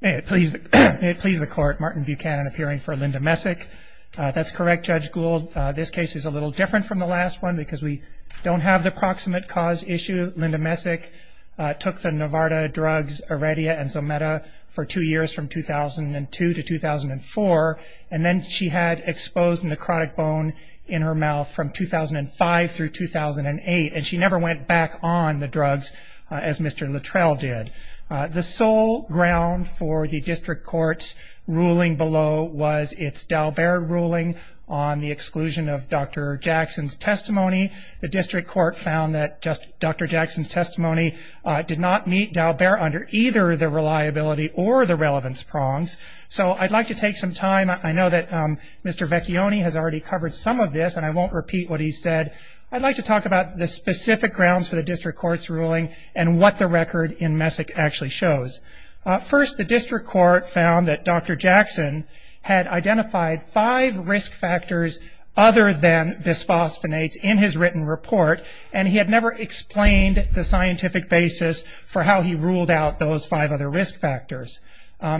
May it please the court, Martin Buchanan appearing for Linda Messick. That's correct, Judge Gould. This case is a little different from the last one because we don't have the proximate cause issue. Linda Messick took the Novartis drugs Aredia and Zometa for two years from 2002 to 2004, and then she had exposed necrotic bone in her mouth from 2005 through 2008, and she never went back on the drugs as Mr. Littrell did. The sole ground for the district court's ruling below was its Dalbert ruling on the exclusion of Dr. Jackson's testimony. The district court found that Dr. Jackson's testimony did not meet Dalbert under either the reliability or the relevance prongs. So I'd like to take some time. I know that Mr. Vecchione has already covered some of this, and I won't repeat what he said. I'd like to talk about the specific grounds for the district court's ruling and what the record in Messick actually shows. First, the district court found that Dr. Jackson had identified five risk factors other than bisphosphonates in his written report, and he had never explained the scientific basis for how he ruled out those five other risk factors.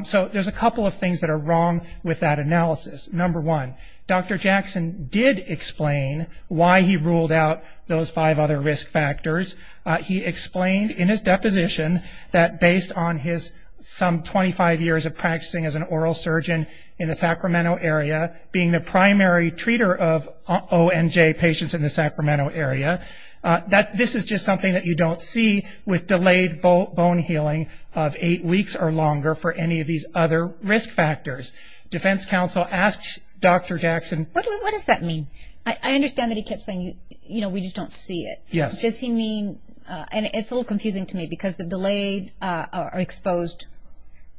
So there's a couple of things that are wrong with that analysis. Number one, Dr. Jackson did explain why he ruled out those five other risk factors. He explained in his deposition that based on his some 25 years of practicing as an oral surgeon in the Sacramento area, being the primary treater of ONJ patients in the Sacramento area, that this is just something that you don't see with delayed bone healing of eight weeks or longer for any of these other risk factors. Defense counsel asked Dr. Jackson... What does that mean? I understand that he kept saying, you know, we just don't see it. Yes. Does he mean, and it's a little confusing to me, because the delayed or exposed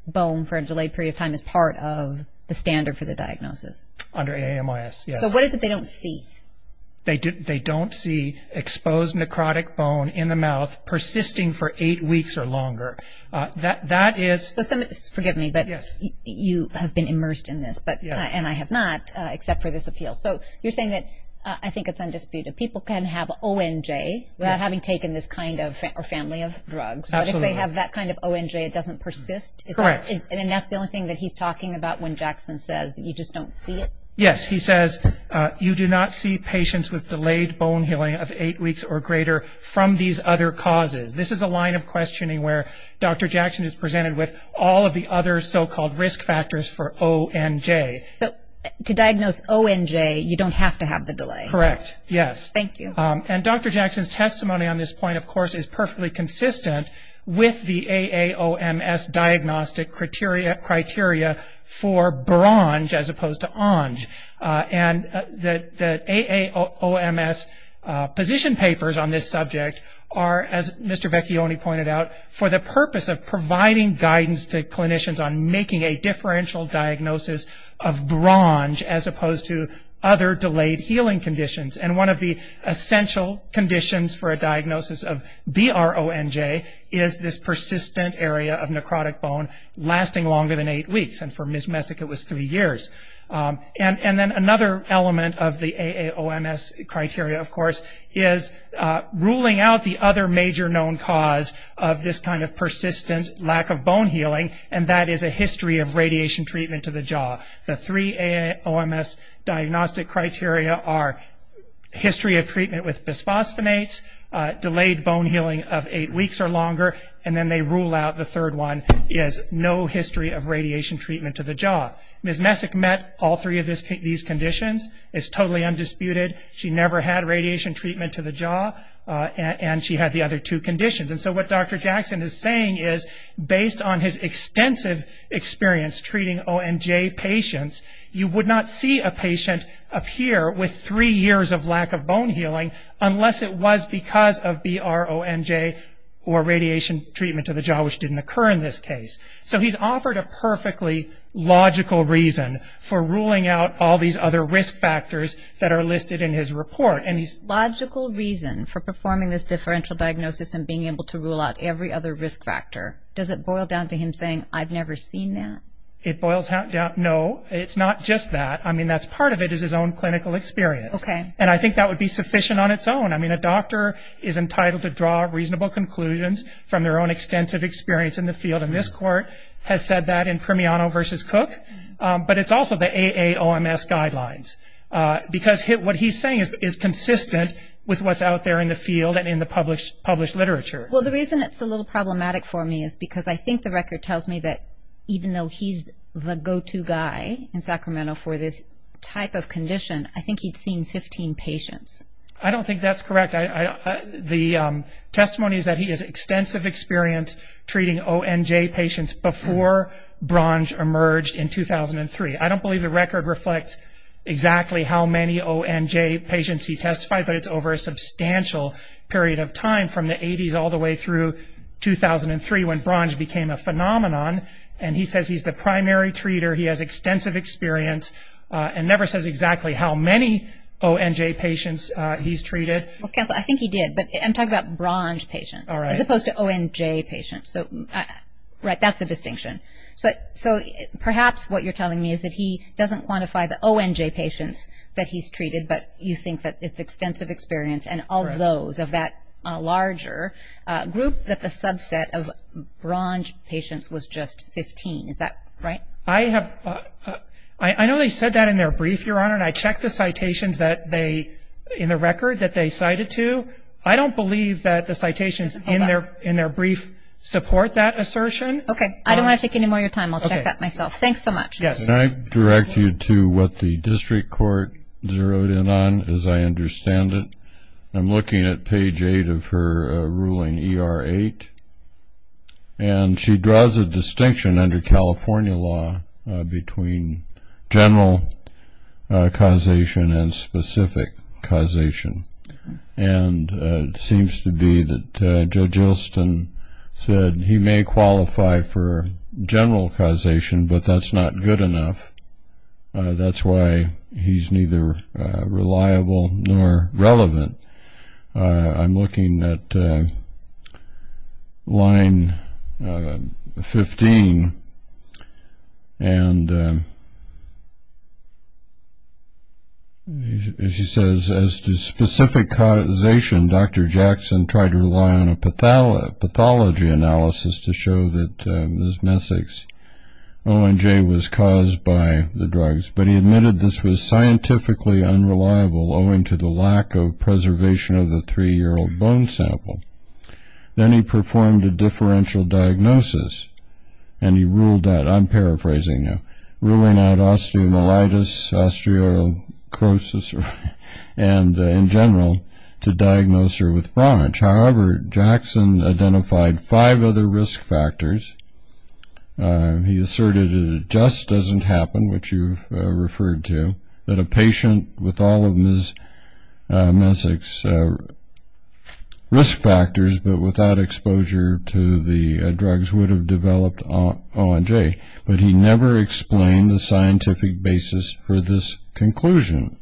bone for a delayed period of time is part of the standard for the diagnosis. Under AMIS, yes. So what is it they don't see? They don't see exposed necrotic bone in the mouth persisting for eight weeks or longer. That is... Forgive me, but you have been immersed in this, and I have not, except for this appeal. So you're saying that I think it's undisputed. People can have ONJ without having taken this kind of family of drugs. Absolutely. But if they have that kind of ONJ, it doesn't persist? Correct. And that's the only thing that he's talking about when Jackson says you just don't see it? Yes. He says you do not see patients with delayed bone healing of eight weeks or greater from these other causes. This is a line of questioning where Dr. Jackson is presented with all of the other so-called risk factors for ONJ. So to diagnose ONJ, you don't have to have the delay? Correct. Yes. Thank you. And Dr. Jackson's testimony on this point, of course, is perfectly consistent with the AAOMS diagnostic criteria for BRONJ as opposed to ONJ. And the AAOMS position papers on this subject are, as Mr. Vecchione pointed out, for the purpose of providing guidance to clinicians on making a differential diagnosis of BRONJ as opposed to other delayed healing conditions. And one of the essential conditions for a diagnosis of BRONJ is this persistent area of necrotic bone lasting longer than eight weeks. And for Ms. Messick, it was three years. And then another element of the AAOMS criteria, of course, is ruling out the other major known cause of this kind of persistent lack of bone healing, and that is a history of radiation treatment to the jaw. The three AAOMS diagnostic criteria are history of treatment with bisphosphonates, delayed bone healing of eight weeks or longer, and then they rule out the third one is no history of radiation treatment to the jaw. Ms. Messick met all three of these conditions. It's totally undisputed. She never had radiation treatment to the jaw, and she had the other two conditions. And so what Dr. Jackson is saying is, based on his extensive experience treating ONJ patients, you would not see a patient appear with three years of lack of bone healing unless it was because of BRONJ or radiation treatment to the jaw, which didn't occur in this case. So he's offered a perfectly logical reason for ruling out all these other risk factors that are listed in his report. And he's- Logical reason for performing this differential diagnosis and being able to rule out every other risk factor. Does it boil down to him saying, I've never seen that? It boils down to, no, it's not just that. I mean, that's part of it is his own clinical experience. Okay. And I think that would be sufficient on its own. I mean, a doctor is entitled to draw reasonable conclusions from their own extensive experience in the field, and this court has said that in Primiano v. Cook. But it's also the AAOMS guidelines, because what he's saying is consistent with what's out there in the field and in the published literature. Well, the reason it's a little problematic for me is because I think the record tells me that even though he's the go-to guy in Sacramento for this type of condition, I think he'd seen 15 patients. I don't think that's correct. The testimony is that he has extensive experience treating ONJ patients before BRONJ emerged in 2003. I don't believe the record reflects exactly how many ONJ patients he testified, but it's over a substantial period of time from the 80s all the way through 2003 when BRONJ became a phenomenon, and he says he's the primary treater. He has extensive experience and never says exactly how many ONJ patients he's treated. Well, counsel, I think he did, but I'm talking about BRONJ patients as opposed to ONJ patients. So, right, that's the distinction. So perhaps what you're telling me is that he doesn't quantify the ONJ patients that he's treated, but you think that it's extensive experience and all those of that larger group that the subset of BRONJ patients was just 15. Is that right? I know they said that in their brief, Your Honor, and I checked the citations in the record that they cited to. I don't believe that the citations in their brief support that assertion. Okay. I don't want to take any more of your time. I'll check that myself. Thanks so much. Can I direct you to what the district court zeroed in on, as I understand it? I'm looking at page 8 of her ruling, ER 8, and she draws a distinction under California law between general causation and specific causation. And it seems to be that Judge Olson said he may qualify for general causation, but that's not good enough. That's why he's neither reliable nor relevant. I'm looking at line 15, and she says, as to specific causation, Dr. Jackson tried to rely on a pathology analysis to show that Ms. Messick's ONJ was caused by the drugs, but he admitted this was scientifically unreliable owing to the lack of preservation of the three-year-old bone sample. Then he performed a differential diagnosis, and he ruled that, I'm paraphrasing now, ruling out osteomyelitis, osteoacrosis, and, in general, to diagnose her with BRONJ. However, Jackson identified five other risk factors. He asserted that it just doesn't happen, which you've referred to, that a patient with all of Ms. Messick's risk factors but without exposure to the drugs would have developed ONJ, but he never explained the scientific basis for this conclusion.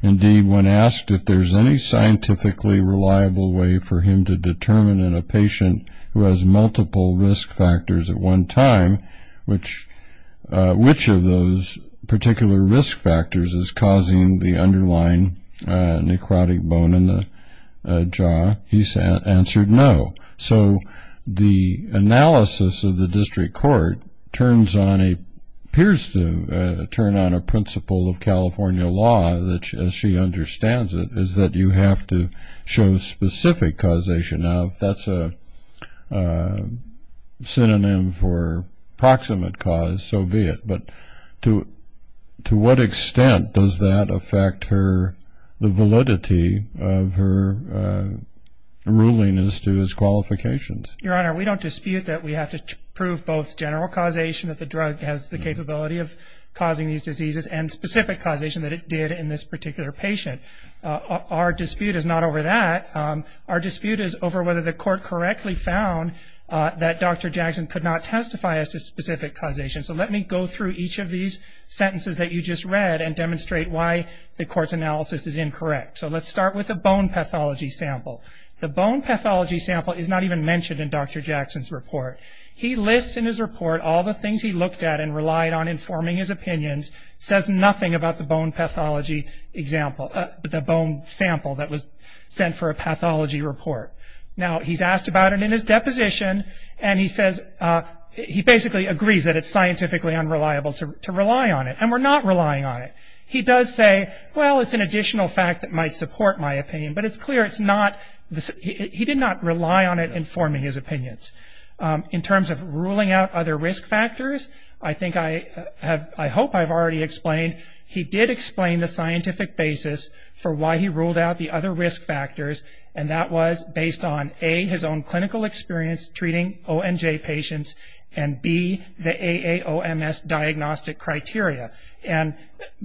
Indeed, when asked if there's any scientifically reliable way for him to determine in a patient who has multiple risk factors at one time which of those particular risk factors is causing the underlying necrotic bone in the jaw, he answered no. So the analysis of the district court appears to turn on a principle of California law, which, as she understands it, is that you have to show specific causation. Now, if that's a synonym for proximate cause, so be it, but to what extent does that affect the validity of her ruling as to his qualifications? Your Honor, we don't dispute that we have to prove both general causation, that the drug has the capability of causing these diseases, and specific causation that it did in this particular patient. Our dispute is not over that. Our dispute is over whether the court correctly found that Dr. Jackson could not testify as to specific causation. So let me go through each of these sentences that you just read and demonstrate why the court's analysis is incorrect. So let's start with the bone pathology sample. The bone pathology sample is not even mentioned in Dr. Jackson's report. He lists in his report all the things he looked at and relied on informing his opinions, says nothing about the bone pathology sample that was sent for a pathology report. Now, he's asked about it in his deposition, and he basically agrees that it's scientifically unreliable to rely on it, and we're not relying on it. He does say, well, it's an additional fact that might support my opinion, but it's clear he did not rely on it informing his opinions. In terms of ruling out other risk factors, I hope I've already explained, he did explain the scientific basis for why he ruled out the other risk factors, and that was based on, A, his own clinical experience treating ONJ patients, and, B, the AAOMS diagnostic criteria. And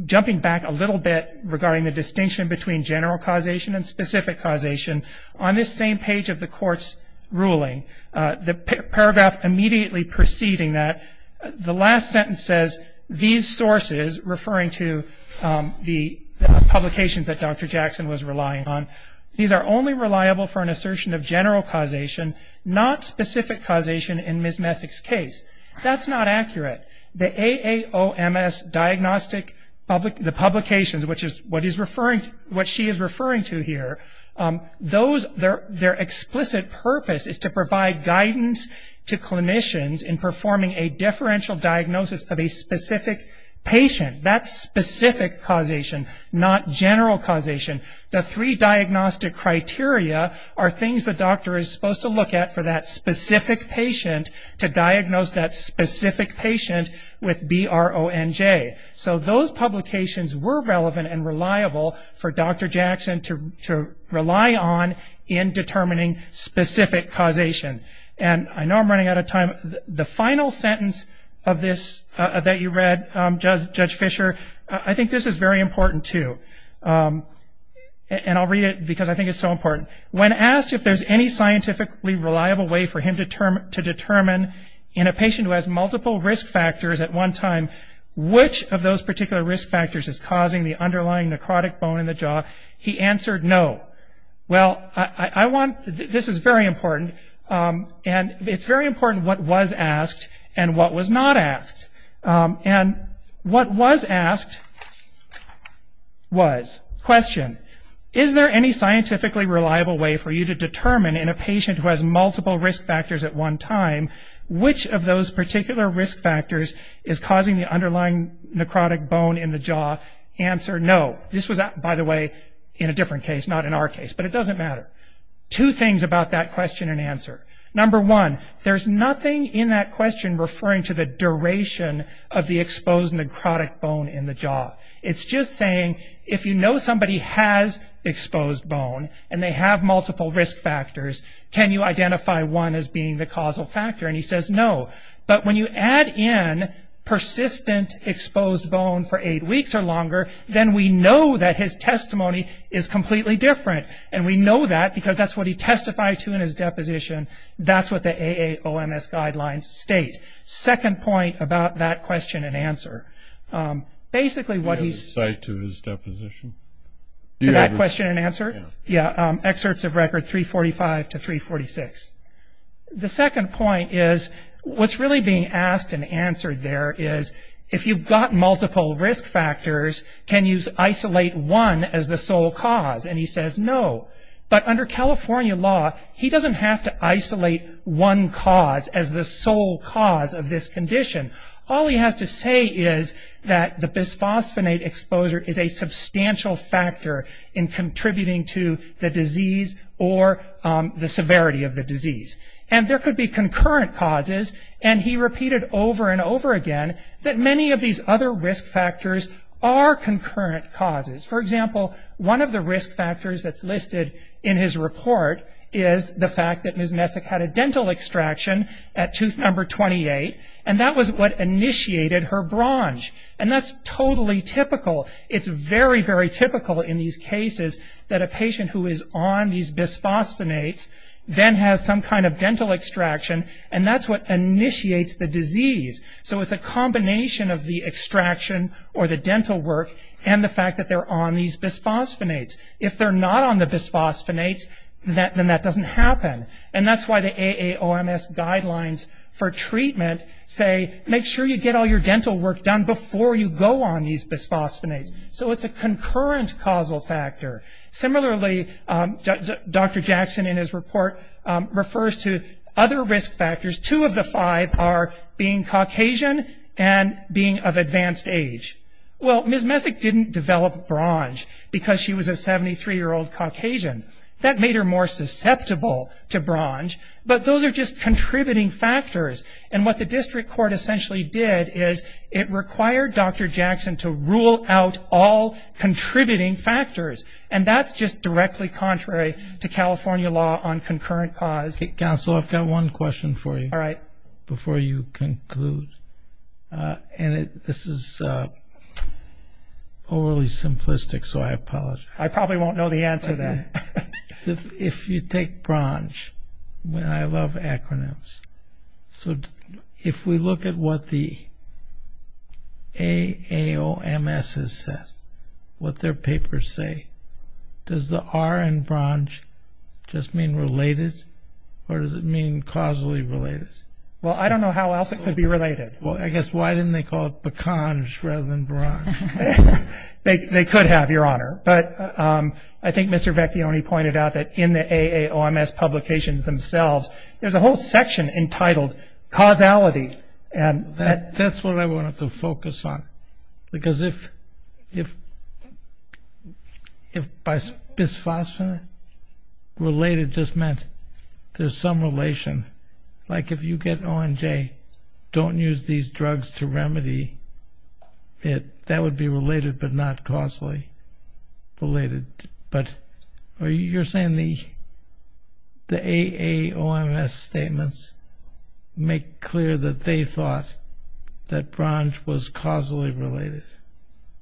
jumping back a little bit regarding the distinction between general causation and specific causation, on this same page of the court's ruling, the paragraph immediately preceding that, the last sentence says, these sources, referring to the publications that Dr. Jackson was relying on, these are only reliable for an assertion of general causation, not specific causation in Ms. Messick's case. That's not accurate. The AAOMS diagnostic, the publications, which is what she is referring to here, their explicit purpose is to provide guidance to clinicians in performing a differential diagnosis of a specific patient. That's specific causation, not general causation. The three diagnostic criteria are things the doctor is supposed to look at for that specific patient to diagnose that specific patient with BRONJ. So those publications were relevant and reliable for Dr. Jackson to rely on in determining specific causation. And I know I'm running out of time. The final sentence of this that you read, Judge Fischer, I think this is very important, too. And I'll read it because I think it's so important. When asked if there's any scientifically reliable way for him to determine, in a patient who has multiple risk factors at one time, which of those particular risk factors is causing the underlying necrotic bone in the jaw, he answered no. Well, I want, this is very important, and it's very important what was asked and what was not asked. And what was asked was, question, is there any scientifically reliable way for you to determine, in a patient who has multiple risk factors at one time, which of those particular risk factors is causing the underlying necrotic bone in the jaw, answer no. This was, by the way, in a different case, not in our case, but it doesn't matter. Two things about that question and answer. Number one, there's nothing in that question referring to the duration of the exposed necrotic bone in the jaw. It's just saying, if you know somebody has exposed bone and they have multiple risk factors, can you identify one as being the causal factor? And he says no. But when you add in persistent exposed bone for eight weeks or longer, then we know that his testimony is completely different. And we know that because that's what he testified to in his deposition. That's what the AAOMS guidelines state. Second point about that question and answer. Basically, what he's- Do you have a cite to his deposition? To that question and answer? Yeah. Yeah, excerpts of record 345 to 346. The second point is, what's really being asked and answered there is, if you've got multiple risk factors, can you isolate one as the sole cause? And he says no. But under California law, he doesn't have to isolate one cause as the sole cause of this condition. All he has to say is that the bisphosphonate exposure is a substantial factor in contributing to the disease or the severity of the disease. And there could be concurrent causes. And he repeated over and over again that many of these other risk factors are concurrent causes. For example, one of the risk factors that's listed in his report is the fact that Ms. Messick had a dental extraction at tooth number 28, and that was what initiated her bronze. And that's totally typical. It's very, very typical in these cases that a patient who is on these bisphosphonates then has some kind of dental extraction, and that's what initiates the disease. So it's a combination of the extraction or the dental work and the fact that they're on these bisphosphonates. If they're not on the bisphosphonates, then that doesn't happen. And that's why the AAOMS guidelines for treatment say, make sure you get all your dental work done before you go on these bisphosphonates. So it's a concurrent causal factor. Similarly, Dr. Jackson in his report refers to other risk factors. Two of the five are being Caucasian and being of advanced age. Well, Ms. Messick didn't develop bronze because she was a 73-year-old Caucasian. That made her more susceptible to bronze, but those are just contributing factors. And what the district court essentially did is it required Dr. Jackson to rule out all contributing factors. And that's just directly contrary to California law on concurrent cause. Counsel, I've got one question for you before you conclude. And this is overly simplistic, so I apologize. I probably won't know the answer to that. If you take bronze, and I love acronyms, so if we look at what the AAOMS has said, what their papers say, does the R in bronze just mean related or does it mean causally related? Well, I don't know how else it could be related. Well, I guess why didn't they call it beconge rather than bronze? They could have, Your Honor. But I think Mr. Vecchione pointed out that in the AAOMS publications themselves, there's a whole section entitled causality. That's what I wanted to focus on. Because if bisphosphonate related just meant there's some relation, like if you get ONJ, don't use these drugs to remedy it, that would be related but not causally related. But you're saying the AAOMS statements make clear that they thought that bronze was causally related?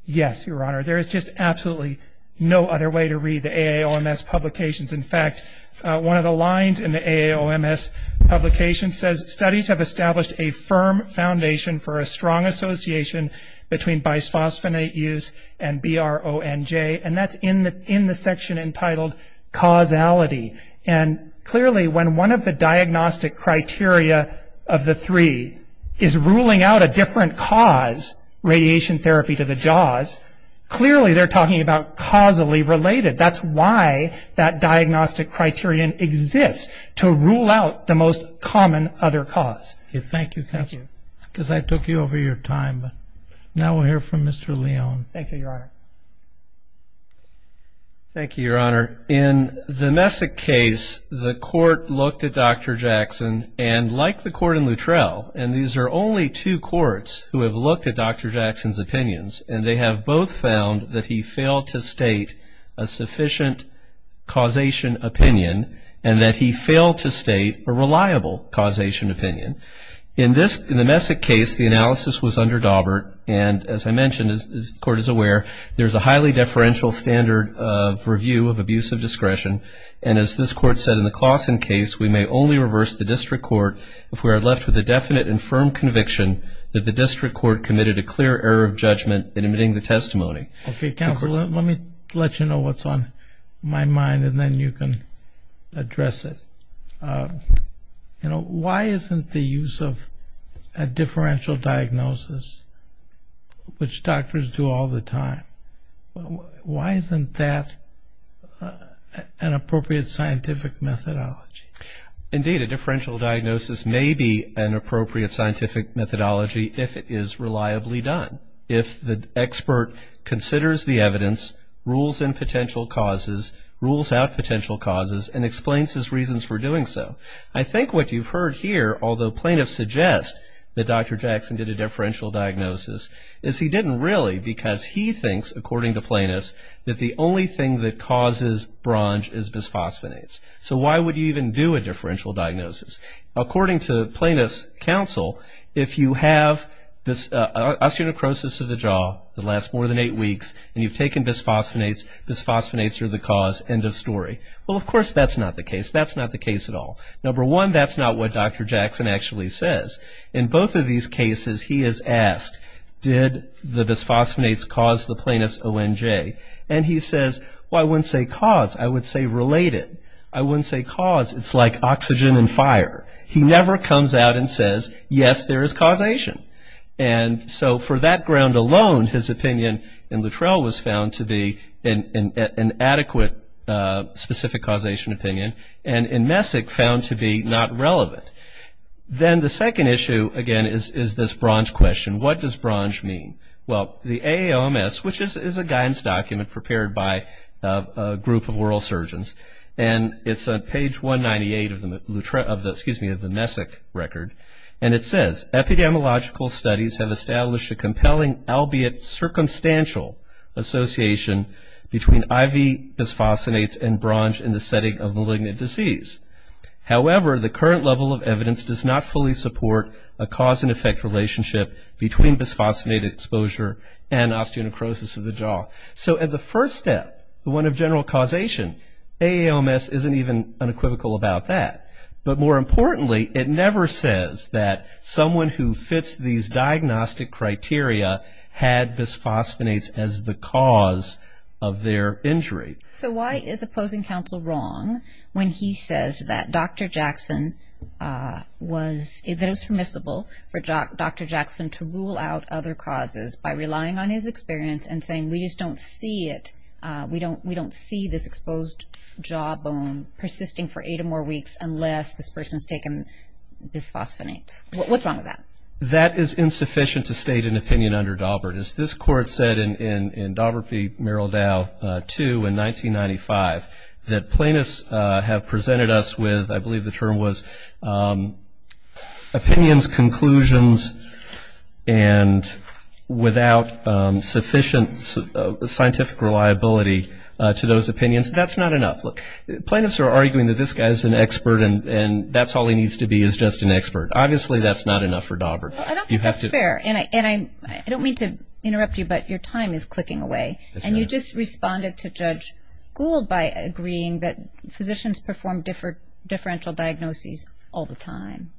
Yes, Your Honor. There is just absolutely no other way to read the AAOMS publications. In fact, one of the lines in the AAOMS publication says, studies have established a firm foundation for a strong association between bisphosphonate use and BRONJ. And that's in the section entitled causality. And clearly when one of the diagnostic criteria of the three is ruling out a different cause, radiation therapy to the jaws, clearly they're talking about causally related. That's why that diagnostic criterion exists, to rule out the most common other cause. Thank you. Because I took you over your time. Now we'll hear from Mr. Leon. Thank you, Your Honor. Thank you, Your Honor. In the Messick case, the court looked at Dr. Jackson, and like the court in Luttrell, and these are only two courts who have looked at Dr. Jackson's opinions, and they have both found that he failed to state a sufficient causation opinion and that he failed to state a reliable causation opinion. In the Messick case, the analysis was under Dawbert, and as I mentioned, as the court is aware, there's a highly deferential standard of review of abuse of discretion. And as this court said in the Claussen case, we may only reverse the district court if we are left with a definite and firm conviction that the district court committed a clear error of judgment in admitting the testimony. Okay, counsel, let me let you know what's on my mind, and then you can address it. You know, why isn't the use of a differential diagnosis, which doctors do all the time, why isn't that an appropriate scientific methodology? Indeed, a differential diagnosis may be an appropriate scientific methodology if it is reliably done. If the expert considers the evidence, rules in potential causes, rules out potential causes, and explains his reasons for doing so. I think what you've heard here, although plaintiffs suggest that Dr. Jackson did a differential diagnosis, is he didn't really because he thinks, according to plaintiffs, that the only thing that causes bronze is bisphosphonates. So why would you even do a differential diagnosis? According to plaintiff's counsel, if you have osteonecrosis of the jaw that lasts more than eight weeks, and you've taken bisphosphonates, bisphosphonates are the cause, end of story. Well, of course, that's not the case. That's not the case at all. Number one, that's not what Dr. Jackson actually says. In both of these cases, he has asked, did the bisphosphonates cause the plaintiff's ONJ? And he says, well, I wouldn't say cause, I would say related. I wouldn't say cause. It's like oxygen and fire. He never comes out and says, yes, there is causation. And so for that ground alone, his opinion in Luttrell was found to be an adequate specific causation opinion, and in Messick found to be not relevant. Then the second issue, again, is this bronze question. What does bronze mean? Well, the AAMS, which is a guidance document prepared by a group of oral surgeons, and it's on page 198 of the Messick record, and it says, epidemiological studies have established a compelling, albeit circumstantial, association between IV bisphosphonates and bronze in the setting of malignant disease. However, the current level of evidence does not fully support a cause and effect relationship between bisphosphonate exposure and osteonecrosis of the jaw. So at the first step, the one of general causation, AAMS isn't even unequivocal about that. But more importantly, it never says that someone who fits these diagnostic criteria had bisphosphonates as the cause of their injury. So why is opposing counsel wrong when he says that Dr. Jackson was, that it was permissible for Dr. Jackson to rule out other causes by relying on his experience and saying we just don't see it, we don't see this exposed jawbone persisting for eight or more weeks unless this person's taken bisphosphonate. What's wrong with that? That is insufficient to state an opinion under Daubert. As this court said in Daubert v. Merrill Dow II in 1995, that plaintiffs have presented us with, I believe the term was, opinions, conclusions, and without sufficient scientific reliability to those opinions. That's not enough. Look, plaintiffs are arguing that this guy's an expert and that's all he needs to be is just an expert. Obviously, that's not enough for Daubert. Well, I don't think that's fair. And I don't mean to interrupt you, but your time is clicking away. And you just responded to Judge Gould by agreeing that physicians perform differential diagnoses all the time.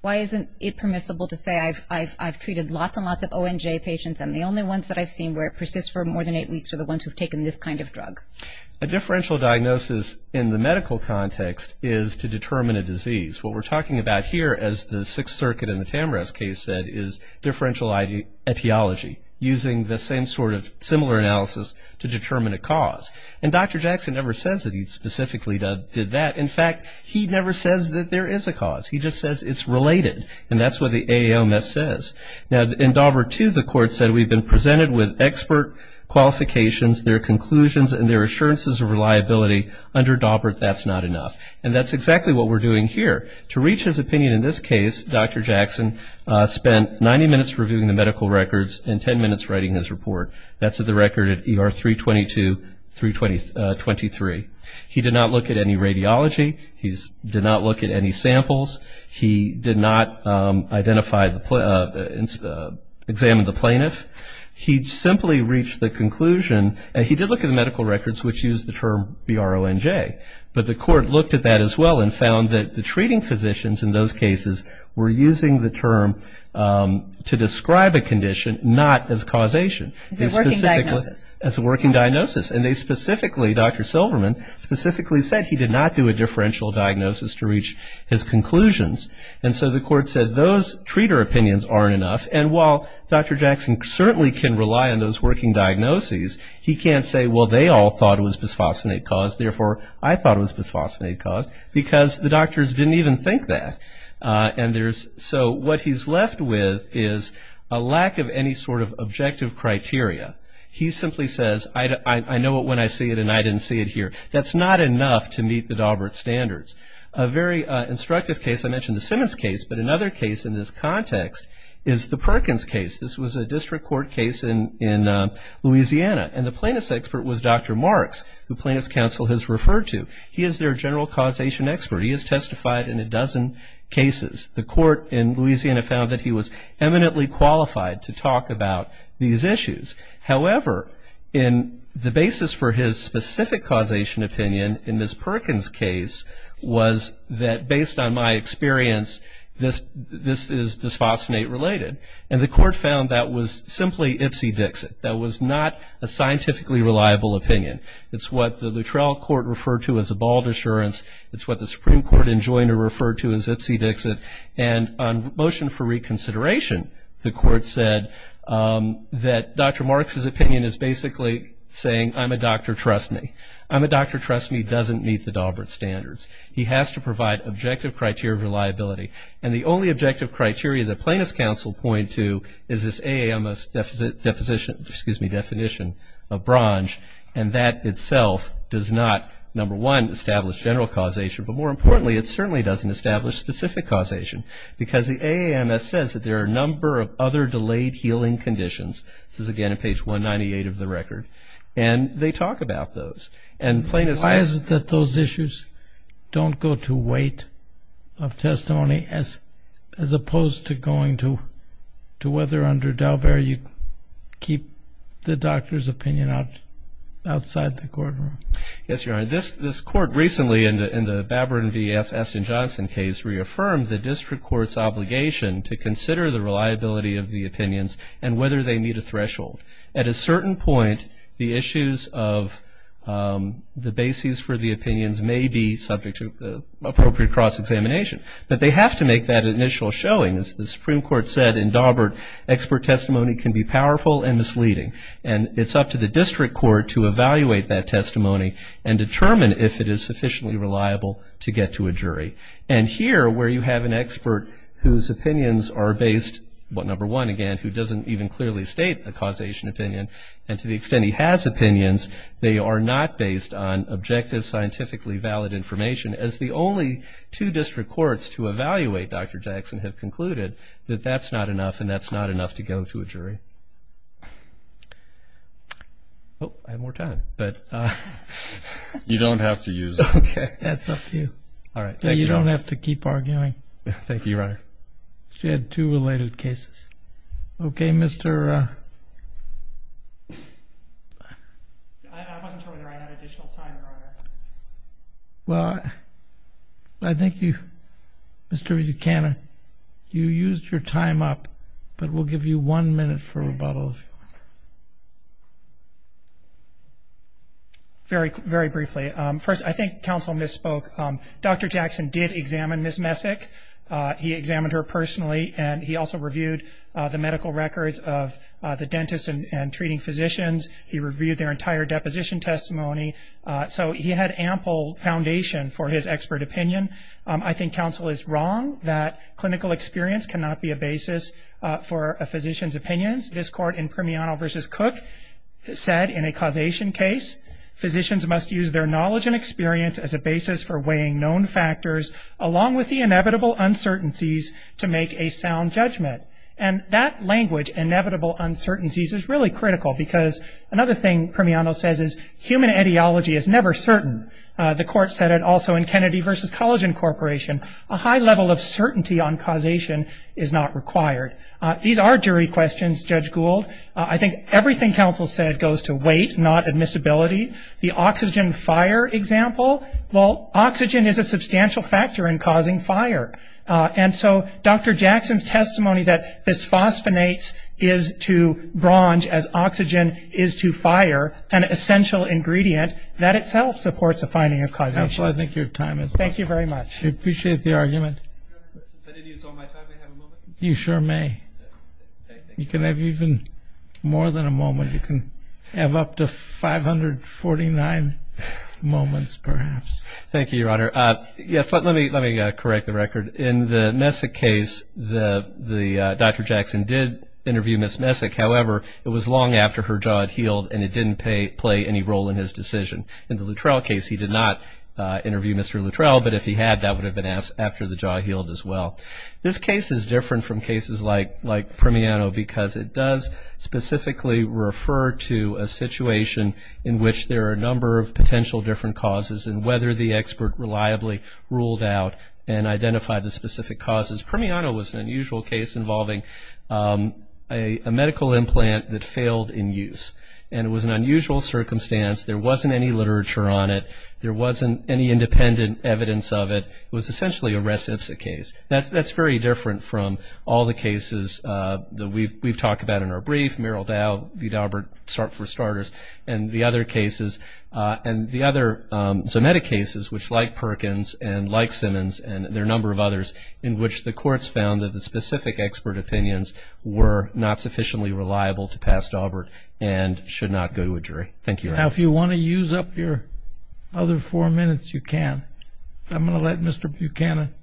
Why isn't it permissible to say I've treated lots and lots of ONJ patients and the only ones that I've seen where it persists for more than eight weeks are the ones who have taken this kind of drug? A differential diagnosis in the medical context is to determine a disease. What we're talking about here, as the Sixth Circuit in the Tamra's case said, is differential ideology using the same sort of similar analysis to determine a cause. And Dr. Jackson never says that he specifically did that. In fact, he never says that there is a cause. He just says it's related, and that's what the AALMS says. Now, in Daubert II, the court said we've been presented with expert qualifications, their conclusions, and their assurances of reliability. Under Daubert, that's not enough. And that's exactly what we're doing here. To reach his opinion in this case, Dr. Jackson spent 90 minutes reviewing the medical records and 10 minutes writing his report. That's at the record at ER 322 through 23. He did not look at any radiology. He did not look at any samples. He did not examine the plaintiff. He simply reached the conclusion, and he did look at the medical records, which use the term BRONJ, but the court looked at that as well and found that the treating physicians in those cases were using the term to describe a condition, not as causation. As a working diagnosis. And they specifically, Dr. Silverman, specifically said he did not do a differential diagnosis to reach his conclusions. And so the court said those treater opinions aren't enough, and while Dr. Jackson certainly can rely on those working diagnoses, he can't say, well, they all thought it was bisphosphonate cause, therefore I thought it was bisphosphonate cause, because the doctors didn't even think that. And so what he's left with is a lack of any sort of objective criteria. He simply says, I know it when I see it and I didn't see it here. That's not enough to meet the Daubert standards. A very instructive case, I mentioned the Simmons case, but another case in this context is the Perkins case. This was a district court case in Louisiana, and the plaintiff's expert was Dr. Marks, who plaintiff's counsel has referred to. He is their general causation expert. He has testified in a dozen cases. The court in Louisiana found that he was eminently qualified to talk about these issues. However, the basis for his specific causation opinion in Ms. Perkins' case was that, based on my experience, this is bisphosphonate related. And the court found that was simply ipsy-dixit. That was not a scientifically reliable opinion. It's what the Luttrell Court referred to as a bald assurance. It's what the Supreme Court in Joyner referred to as ipsy-dixit. And on motion for reconsideration, the court said that Dr. Marks' opinion is basically saying, I'm a doctor, trust me. I'm a doctor, trust me doesn't meet the Daubert standards. He has to provide objective criteria of reliability. And the only objective criteria that plaintiff's counsel point to is this AAMS definition of bronze. And that itself does not, number one, establish general causation. But more importantly, it certainly doesn't establish specific causation. Because the AAMS says that there are a number of other delayed healing conditions. This is, again, on page 198 of the record. And they talk about those. Why is it that those issues don't go to weight of testimony, as opposed to going to whether under Daubert you keep the doctor's opinion outside the courtroom? Yes, Your Honor. This court recently, in the Babrin v. Aston Johnson case, reaffirmed the district court's obligation to consider the reliability of the opinions and whether they meet a threshold. At a certain point, the issues of the basis for the opinions may be subject to appropriate cross-examination. But they have to make that initial showing. As the Supreme Court said in Daubert, expert testimony can be powerful and misleading. And it's up to the district court to evaluate that testimony and determine if it is sufficiently reliable to get to a jury. And here, where you have an expert whose opinions are based, well, number one, again, who doesn't even clearly state a causation opinion, and to the extent he has opinions, they are not based on objective, scientifically valid information. As the only two district courts to evaluate Dr. Jackson have concluded that that's not enough, and that's not enough to go to a jury. I have more time. You don't have to use it. Okay. That's up to you. All right. You don't have to keep arguing. Thank you, Your Honor. She had two related cases. Okay, Mr. I wasn't sure whether I had additional time or not. Well, I think you, Mr. Buchanan, you used your time up, but we'll give you one minute for rebuttal. Very briefly. First, I think counsel misspoke. Dr. Jackson did examine Ms. Messick. He examined her personally, and he also reviewed the medical records of the dentists and treating physicians. He reviewed their entire deposition testimony. So he had ample foundation for his expert opinion. I think counsel is wrong that clinical experience cannot be a basis for a physician's opinions. This court in Primiano v. Cook said in a causation case, physicians must use their knowledge and experience as a basis for weighing known factors, along with the inevitable uncertainties, to make a sound judgment. And that language, inevitable uncertainties, is really critical because another thing Primiano says is human ideology is never certain. The court said it also in Kennedy v. Collagen Corporation. A high level of certainty on causation is not required. These are jury questions, Judge Gould. I think everything counsel said goes to weight, not admissibility. The oxygen fire example, well, oxygen is a substantial factor in causing fire. And so Dr. Jackson's testimony that bisphosphonates is to bronze as oxygen is to fire, an essential ingredient, that itself supports a finding of causation. Counsel, I think your time is up. Thank you very much. We appreciate the argument. You sure may. You can have even more than a moment. You can have up to 549 moments, perhaps. Thank you, Your Honor. Yes, let me correct the record. In the Messick case, Dr. Jackson did interview Ms. Messick. However, it was long after her jaw had healed and it didn't play any role in his decision. In the Luttrell case, he did not interview Mr. Luttrell, but if he had that would have been after the jaw healed as well. This case is different from cases like Primiano because it does specifically refer to a situation in which there are a number of potential different causes and whether the expert reliably ruled out and identified the specific causes. Primiano was an unusual case involving a medical implant that failed in use, and it was an unusual circumstance. There wasn't any literature on it. There wasn't any independent evidence of it. It was essentially a res ipsa case. That's very different from all the cases that we've talked about in our brief, Meryl Dow v. Daubert, for starters, and the other cases, and the other Zometa cases which, like Perkins and like Simmons and their number of others, in which the courts found that the specific expert opinions were not sufficiently reliable to pass Daubert and should not go to a jury. Thank you, Your Honor. Now if you want to use up your other four minutes, you can. I'm going to let Mr. Buchanan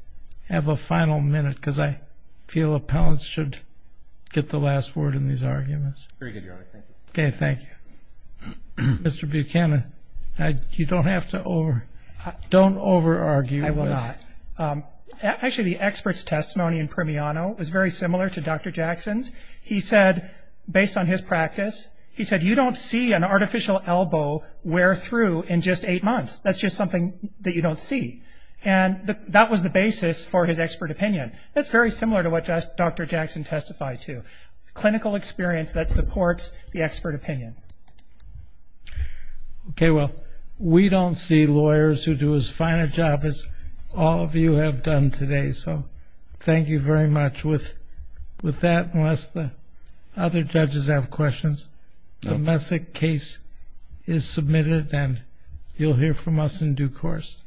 have a final minute because I feel appellants should get the last word in these arguments. Very good, Your Honor. Thank you. Okay, thank you. Mr. Buchanan, you don't have to over- don't over-argue. I will not. Actually, the expert's testimony in Primiano was very similar to Dr. Jackson's. He said, based on his practice, he said, you don't see an artificial elbow wear through in just eight months. That's just something that you don't see. And that was the basis for his expert opinion. That's very similar to what Dr. Jackson testified to, clinical experience that supports the expert opinion. Okay, well, we don't see lawyers who do as fine a job as all of you have done today, so thank you very much. With that, unless the other judges have questions, the Messick case is submitted and you'll hear from us in due course.